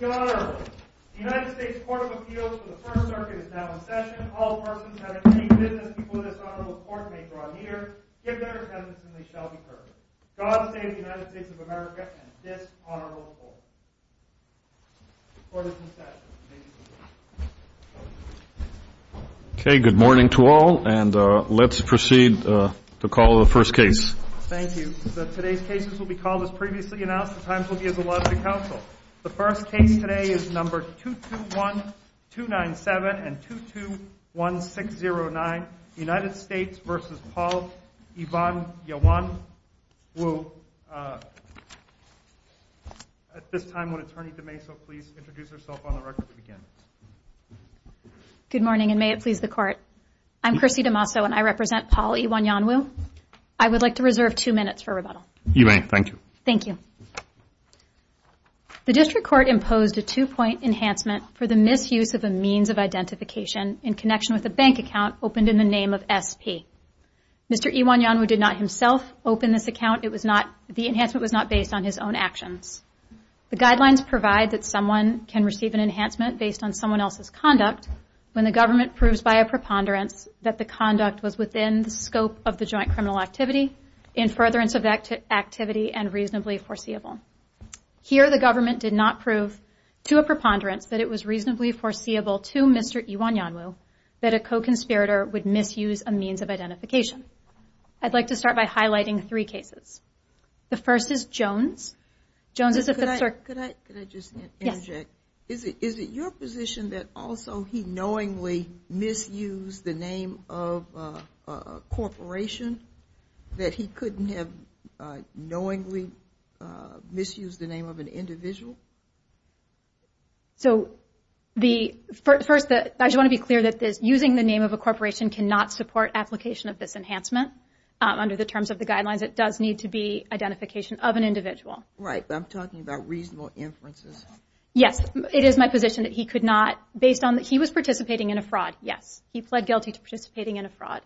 Your Honor, the United States Court of Appeals for the Third Circuit is now in session. All persons having any business before this Honorable Court may draw near, give their attendance, and they shall be heard. God save the United States of America and this Honorable Court. Court is in session. Okay, good morning to all, and let's proceed to call the first case. Thank you. Today's cases will be called as previously announced. The times will be as allowed to counsel. The first case today is number 221297 and 221609, United States v. Paul Iwuanyanwu. At this time, would Attorney DeMaso please introduce herself on the record to begin? Good morning, and may it please the Court. I'm Chrissy DeMaso, and I represent Paul Iwuanyanwu. I would like to reserve two minutes for rebuttal. You may. Thank you. Thank you. The District Court imposed a two-point enhancement for the misuse of a means of identification in connection with a bank account opened in the name of S.P. Mr. Iwuanyanwu did not himself open this account. It was not, the enhancement was not based on his own actions. The guidelines provide that someone can receive an enhancement based on someone else's conduct when the government proves by a preponderance that the conduct was within the scope of the joint criminal activity, in furtherance of that activity, and reasonably foreseeable. Here, the government did not prove to a preponderance that it was reasonably foreseeable to Mr. Iwuanyanwu that a co-conspirator would misuse a means of identification. I'd like to start by highlighting three cases. The first is Jones. Could I just interject? Yes. Is it your position that also he knowingly misused the name of a corporation? That he couldn't have knowingly misused the name of an individual? So, first, I just want to be clear that using the name of a corporation cannot support application of this enhancement. Under the terms of the guidelines, it does need to be identification of an individual. Right, but I'm talking about reasonable inferences. Yes, it is my position that he could not, based on that he was participating in a fraud, yes. He pled guilty to participating in a fraud.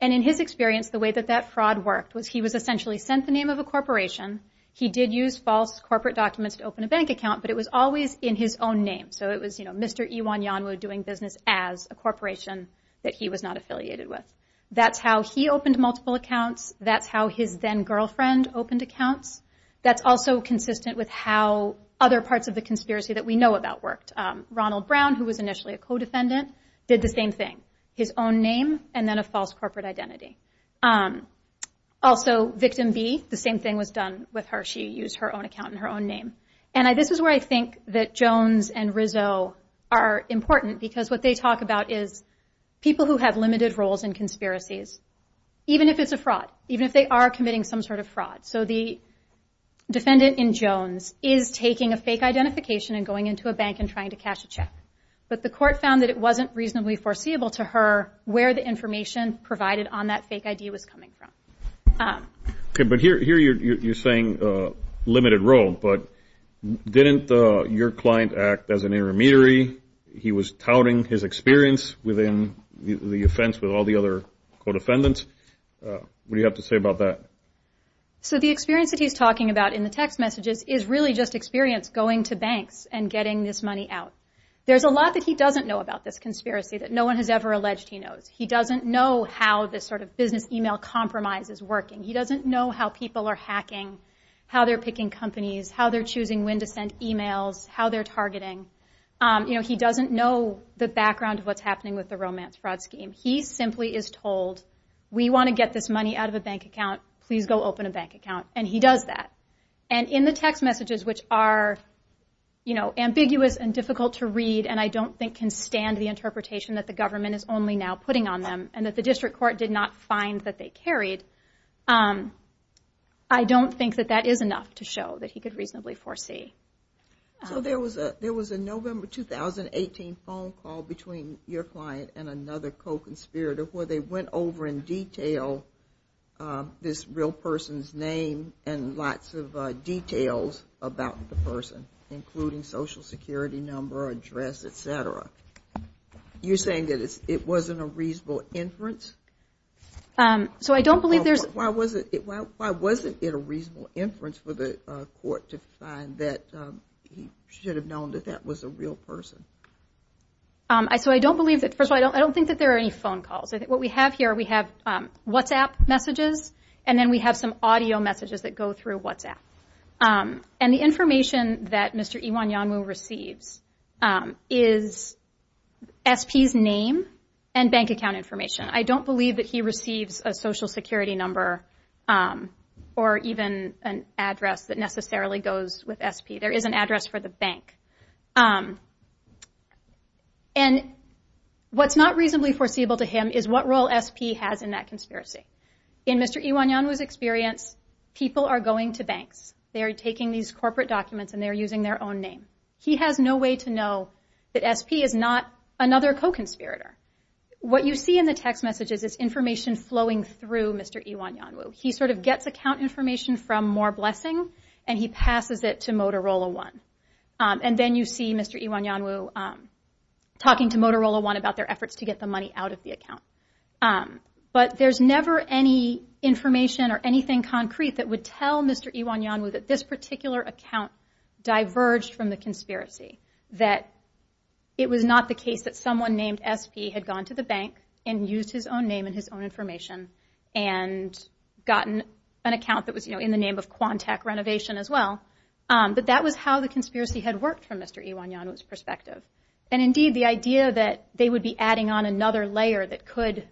And in his experience, the way that that fraud worked was he was essentially sent the name of a corporation. He did use false corporate documents to open a bank account, but it was always in his own name. So it was, you know, Mr. Iwuanyanwu doing business as a corporation that he was not affiliated with. That's how he opened multiple accounts. That's how his then-girlfriend opened accounts. That's also consistent with how other parts of the conspiracy that we know about worked. Ronald Brown, who was initially a co-defendant, did the same thing. His own name and then a false corporate identity. Also, victim B, the same thing was done with her. She used her own account and her own name. And this is where I think that Jones and Rizzo are important, because what they talk about is people who have limited roles in conspiracies, even if it's a fraud, even if they are committing some sort of fraud. So the defendant in Jones is taking a fake identification and going into a bank and trying to cash a check. But the court found that it wasn't reasonably foreseeable to her where the information provided on that fake ID was coming from. Okay, but here you're saying limited role, but didn't your client act as an intermediary? He was touting his experience within the offense with all the other co-defendants. What do you have to say about that? So the experience that he's talking about in the text messages is really just experience going to banks and getting this money out. There's a lot that he doesn't know about this conspiracy that no one has ever alleged he knows. He doesn't know how this sort of business email compromise is working. He doesn't know how people are hacking, how they're picking companies, how they're choosing when to send emails, how they're targeting. He doesn't know the background of what's happening with the romance fraud scheme. He simply is told, we want to get this money out of a bank account. Please go open a bank account. And he does that. And in the text messages, which are ambiguous and difficult to read, and I don't think can stand the interpretation that the government is only now putting on them and that the district court did not find that they carried, I don't think that that is enough to show that he could reasonably foresee. So there was a November 2018 phone call between your client and another co-conspirator where they went over in detail this real person's name and lots of details about the person, including social security number, address, et cetera. You're saying that it wasn't a reasonable inference? So I don't believe there's- Why wasn't it a reasonable inference for the court to find that he should have known that that was a real person? So I don't believe that. First of all, I don't think that there are any phone calls. What we have here, we have WhatsApp messages, and then we have some audio messages that go through WhatsApp. And the information that Mr. Iwanyamu receives is SP's name and bank account information. I don't believe that he receives a social security number or even an address that necessarily goes with SP. There is an address for the bank. And what's not reasonably foreseeable to him is what role SP has in that conspiracy. In Mr. Iwanyamu's experience, people are going to banks. They are taking these corporate documents and they are using their own name. He has no way to know that SP is not another co-conspirator. What you see in the text messages is information flowing through Mr. Iwanyamu. He sort of gets account information from More Blessing, and he passes it to Motorola One. And then you see Mr. Iwanyamu talking to Motorola One about their efforts to get the money out of the account. But there's never any information or anything concrete that would tell Mr. Iwanyamu that this particular account diverged from the conspiracy, that it was not the case that someone named SP had gone to the bank and used his own name and his own information and gotten an account that was in the name of Quantac Renovation as well. But that was how the conspiracy had worked from Mr. Iwanyamu's perspective. And indeed, the idea that they would be adding on another layer that could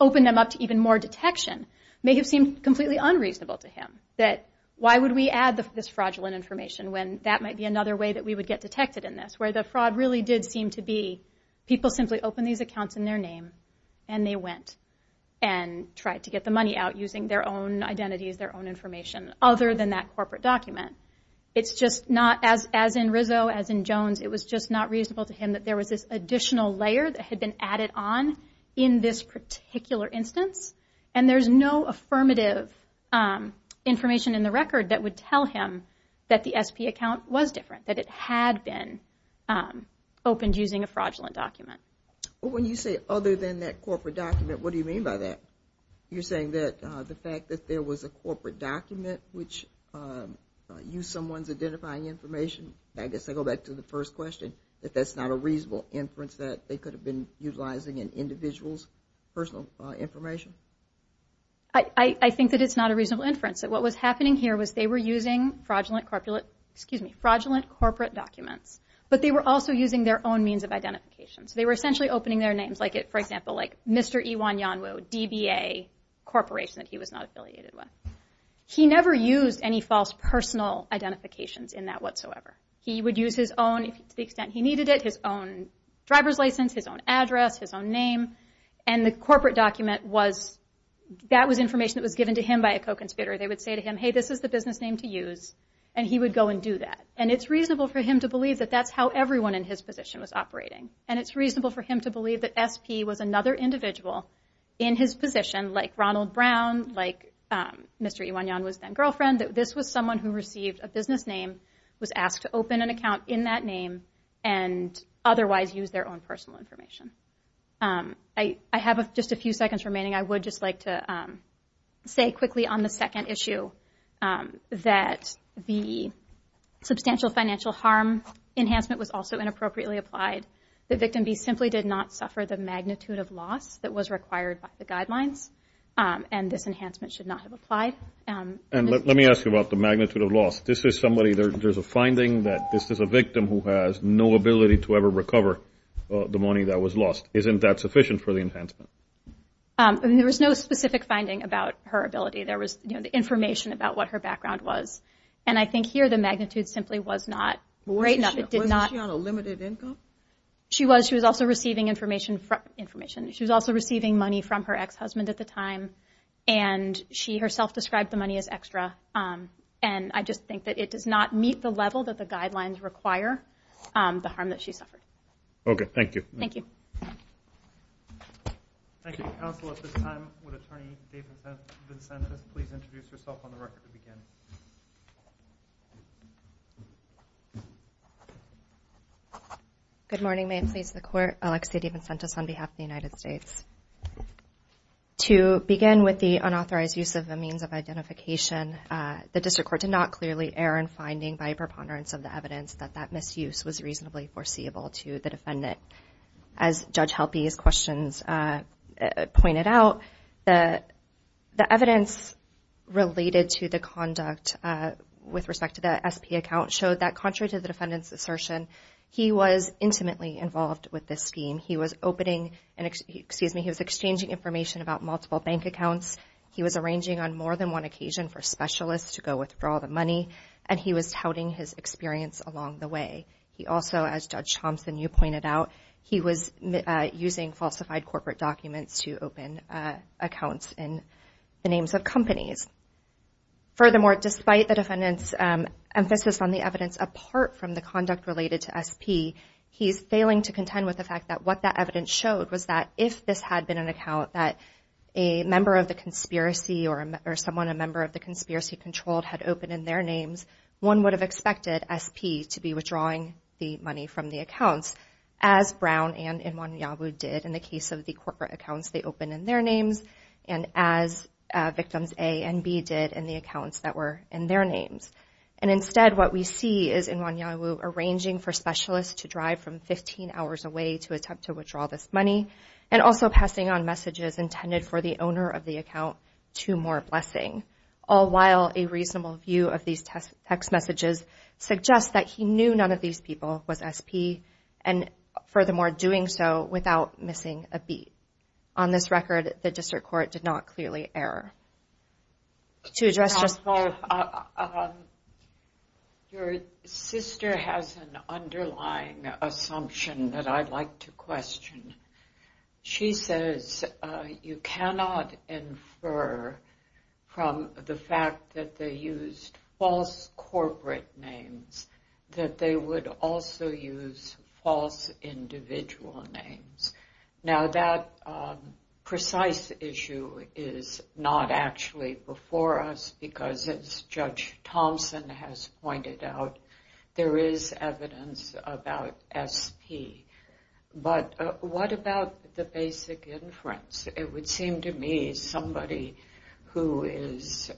open them up to even more detection may have seemed completely unreasonable to him. That why would we add this fraudulent information when that might be another way that we would get detected in this? Where the fraud really did seem to be people simply opened these accounts in their name, and they went and tried to get the money out using their own identities, their own information, other than that corporate document. It's just not, as in Rizzo, as in Jones, it was just not reasonable to him that there was this additional layer that had been added on in this particular instance. And there's no affirmative information in the record that would tell him that the SP account was different, that it had been opened using a fraudulent document. Well, when you say other than that corporate document, what do you mean by that? You're saying that the fact that there was a corporate document which used someone's identifying information, I guess I go back to the first question, that that's not a reasonable inference that they could have been utilizing an individual's personal information? I think that it's not a reasonable inference. What was happening here was they were using fraudulent corporate documents, but they were also using their own means of identification. So they were essentially opening their names, like, for example, Mr. Iwan Yanwu, DBA Corporation that he was not affiliated with. He never used any false personal identifications in that whatsoever. He would use his own, to the extent he needed it, his own driver's license, his own address, his own name. And the corporate document was, that was information that was given to him by a co-conspirator. They would say to him, hey, this is the business name to use, and he would go and do that. And it's reasonable for him to believe that that's how everyone in his position was operating. And it's reasonable for him to believe that SP was another individual in his position, like Ronald Brown, like Mr. Iwan Yanwu's then-girlfriend, that this was someone who received a business name, was asked to open an account in that name, and otherwise use their own personal information. I have just a few seconds remaining. I would just like to say quickly on the second issue that the substantial financial harm enhancement was also inappropriately applied. The victim simply did not suffer the magnitude of loss that was required by the guidelines, and this enhancement should not have applied. And let me ask you about the magnitude of loss. This is somebody, there's a finding that this is a victim who has no ability to ever recover the money that was lost. Isn't that sufficient for the enhancement? There was no specific finding about her ability. There was information about what her background was. And I think here the magnitude simply was not great enough. Wasn't she on a limited income? She was. She was also receiving information from her ex-husband at the time, and she herself described the money as extra. And I just think that it does not meet the level that the guidelines require the harm that she suffered. Okay, thank you. Thank you. Thank you, counsel. At this time, would Attorney Dave Vincentis please introduce herself on the record to begin? Good morning. May it please the Court. Alexi Vincentis on behalf of the United States. To begin with the unauthorized use of the means of identification, the District Court did not clearly err in finding by preponderance of the evidence that that misuse was reasonably foreseeable to the defendant. As Judge Helpe's questions pointed out, the evidence related to the conduct with respect to the SP account showed that contrary to the defendant's assertion, he was intimately involved with this scheme. He was exchanging information about multiple bank accounts. He was arranging on more than one occasion for specialists to go withdraw the money, and he was touting his experience along the way. He also, as Judge Thompson, you pointed out, he was using falsified corporate documents to open accounts in the names of companies. Furthermore, despite the defendant's emphasis on the evidence apart from the conduct related to SP, he's failing to contend with the fact that what that evidence showed was that if this had been an account that a member of the conspiracy or someone a member of the conspiracy controlled had opened in their names, one would have expected SP to be withdrawing the money from the accounts, as Brown and Nwanyawu did in the case of the corporate accounts they opened in their names, and as victims A and B did in the accounts that were in their names. And instead, what we see is Nwanyawu arranging for specialists to drive from 15 hours away to attempt to withdraw this money, and also passing on messages intended for the owner of the account to more blessing, all while a reasonable view of these text messages suggests that he knew none of these people was SP, and furthermore, doing so without missing a beat. On this record, the District Court did not clearly err. Your sister has an underlying assumption that I'd like to question. She says you cannot infer from the fact that they used false corporate names that they would also use false individual names. Now, that precise issue is not actually before us, because as Judge Thompson has pointed out, there is evidence about SP. But what about the basic inference? It would seem to me somebody who is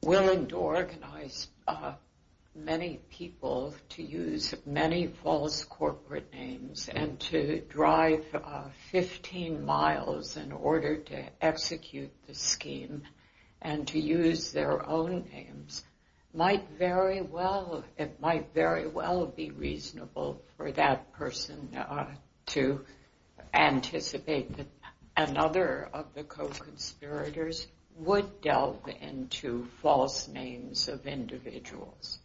willing to organize many people to use many false corporate names and to drive 15 miles in order to execute the scheme and to use their own names might very well be reasonable for that person to anticipate that another of the co-conspirators would delve into false names of individuals.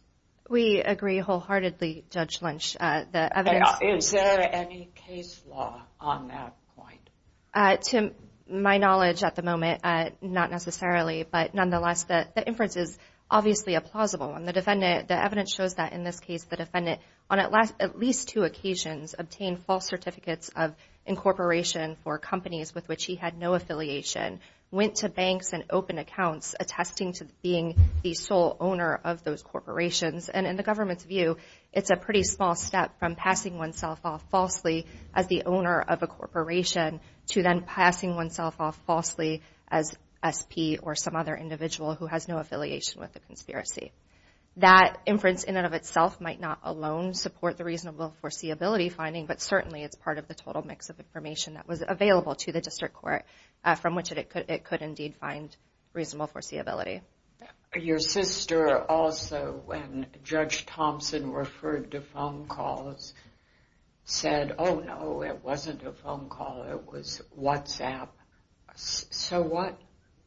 We agree wholeheartedly, Judge Lynch. Is there any case law on that point? To my knowledge at the moment, not necessarily. But nonetheless, the inference is obviously a plausible one. The evidence shows that in this case, the defendant on at least two occasions obtained false certificates of incorporation for companies with which he had no affiliation, went to banks and opened accounts attesting to being the sole owner of those corporations. And in the government's view, it's a pretty small step from passing oneself off falsely as the owner of a corporation to then passing oneself off falsely as SP or some other individual who has no affiliation with the conspiracy. That inference in and of itself might not alone support the reasonable foreseeability finding, but certainly it's part of the total mix of information that was available to the District Court from which it could indeed find reasonable foreseeability. Your sister also, when Judge Thompson referred to phone calls, said, oh, no, it wasn't a phone call, it was WhatsApp. So what?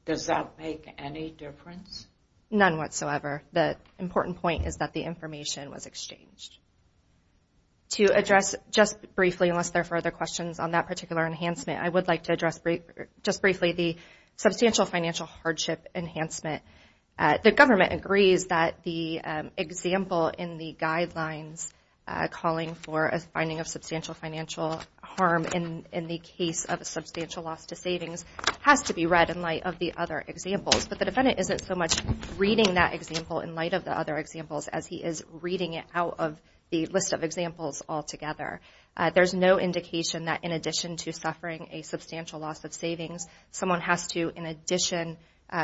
Does that make any difference? None whatsoever. The important point is that the information was exchanged. To address just briefly, unless there are further questions on that particular enhancement, I would like to address just briefly the substantial financial hardship enhancement. The government agrees that the example in the guidelines calling for a finding of substantial financial harm in the case of a substantial loss to savings has to be read in light of the other examples. But the defendant isn't so much reading that example in light of the other examples as he is reading it out of the list of examples altogether. There's no indication that in addition to suffering a substantial loss of savings, someone has to, in addition,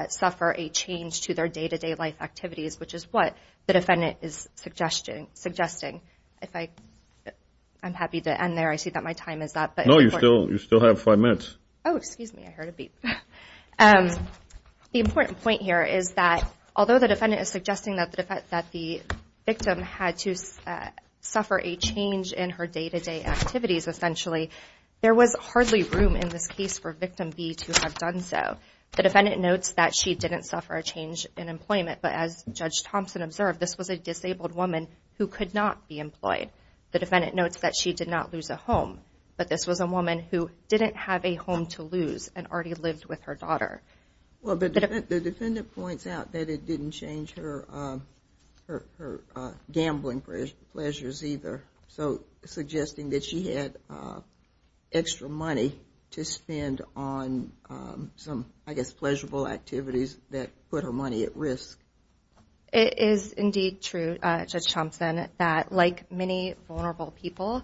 suffer a change to their day-to-day life activities, which is what the defendant is suggesting. I'm happy to end there. I see that my time is up. No, you still have five minutes. Oh, excuse me. I heard a beep. The important point here is that although the defendant is suggesting that the victim had to suffer a change in her day-to-day activities, essentially, there was hardly room in this case for victim B to have done so. The defendant notes that she didn't suffer a change in employment, but as Judge Thompson observed, this was a disabled woman who could not be employed. The defendant notes that she did not lose a home, but this was a woman who didn't have a home to lose and already lived with her daughter. The defendant points out that it didn't change her gambling pleasures either, so suggesting that she had extra money to spend on some, I guess, pleasurable activities that put her money at risk. It is indeed true, Judge Thompson, that like many vulnerable people,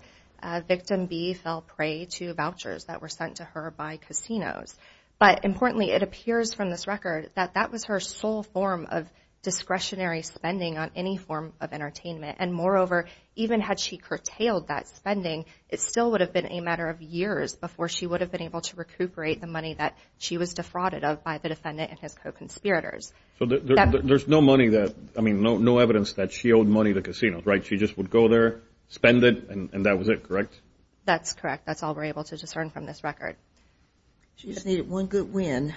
victim B fell prey to vouchers that were sent to her by casinos. But importantly, it appears from this record that that was her sole form of discretionary spending on any form of entertainment. And moreover, even had she curtailed that spending, it still would have been a matter of years before she would have been able to recuperate the money that she was defrauded of by the defendant and his co-conspirators. So there's no money that, I mean, no evidence that she owed money to casinos, right? She just would go there, spend it, and that was it, correct? That's correct. That's all we're able to discern from this record. She just needed one good win.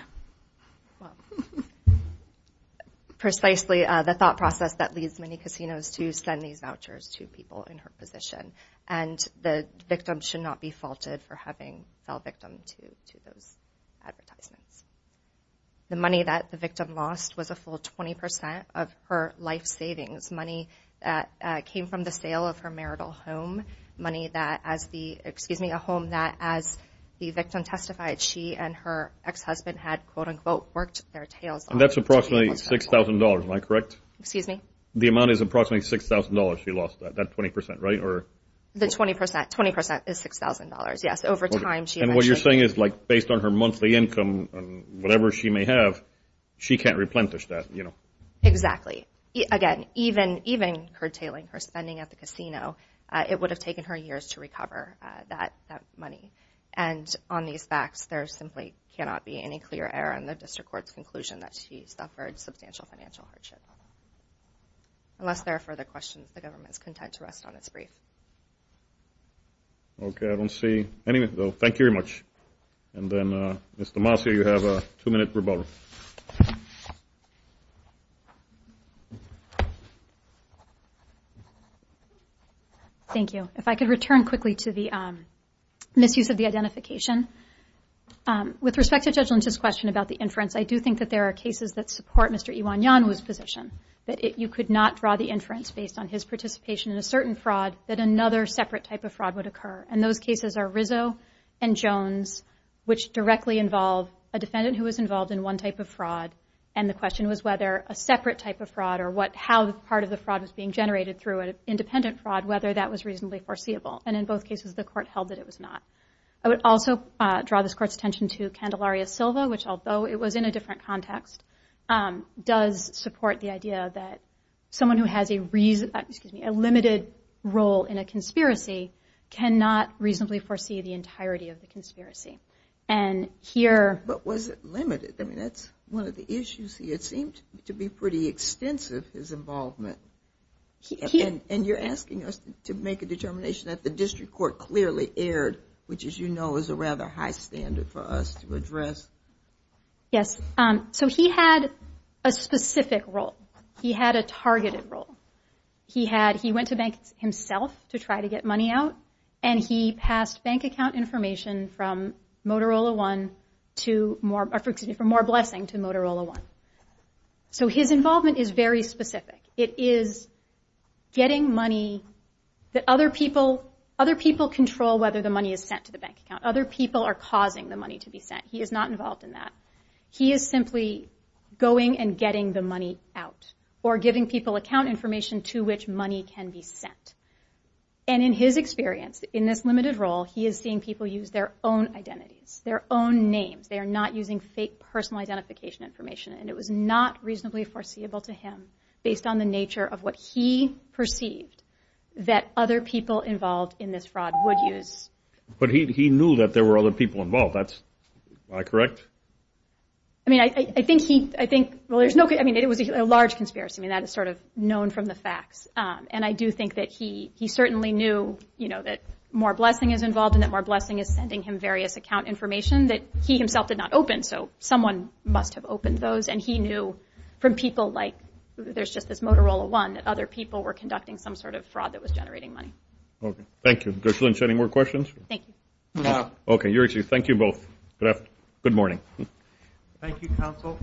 Precisely the thought process that leads many casinos to send these vouchers to people in her position. And the victim should not be faulted for having fell victim to those advertisements. The money that the victim lost was a full 20 percent of her life savings, money that came from the sale of her marital home, money that as the, excuse me, a home that as the victim testified, she and her ex-husband had, quote-unquote, worked their tails off. And that's approximately $6,000, am I correct? Excuse me? The amount is approximately $6,000 she lost, that 20 percent, right? The 20 percent, 20 percent is $6,000, yes. And what you're saying is, like, based on her monthly income and whatever she may have, she can't replenish that, you know? Exactly. Again, even her tailing, her spending at the casino, it would have taken her years to recover that money. And on these facts, there simply cannot be any clear error in the district court's conclusion that she suffered substantial financial hardship. Unless there are further questions, the government is content to rest on its brief. Okay. I don't see any. Thank you very much. And then, Mr. Marcia, you have a two-minute rebuttal. Thank you. If I could return quickly to the misuse of the identification. With respect to Judge Lynch's question about the inference, I do think that there are cases that support Mr. Iwanyanwu's position, that you could not draw the inference based on his participation in a certain fraud that another separate type of fraud would occur. And those cases are Rizzo and Jones, which directly involve a defendant who was involved in one type of fraud, and the question was whether a separate type of fraud or how part of the fraud was being generated through an independent fraud, whether that was reasonably foreseeable. And in both cases, the court held that it was not. I would also draw this Court's attention to Candelaria Silva, which although it was in a different context, does support the idea that someone who has a limited role in a conspiracy cannot reasonably foresee the entirety of the conspiracy. And here... But was it limited? I mean, that's one of the issues. It seemed to be pretty extensive, his involvement. And you're asking us to make a determination that the district court clearly erred, which, as you know, is a rather high standard for us to address. Yes. So he had a specific role. He had a targeted role. He went to banks himself to try to get money out, and he passed bank account information from Motorola One to more blessing to Motorola One. So his involvement is very specific. It is getting money that other people control whether the money is sent to the bank account. Other people are causing the money to be sent. He is not involved in that. He is simply going and getting the money out or giving people account information to which money can be sent. And in his experience, in this limited role, he is seeing people use their own identities, their own names. They are not using fake personal identification information. And it was not reasonably foreseeable to him, based on the nature of what he perceived, that other people involved in this fraud would use. But he knew that there were other people involved. Am I correct? I mean, I think he... Well, there's no... I mean, it was a large conspiracy. I mean, that is sort of known from the facts. And I do think that he certainly knew, you know, that more blessing is involved and that more blessing is sending him various account information that he himself did not open. So someone must have opened those. And he knew from people like... There's just this Motorola One that other people were conducting some sort of fraud that was generating money. Okay. Thank you. Does Lynn have any more questions? Thank you. No. Okay. Thank you both. Good morning. Thank you, counsel.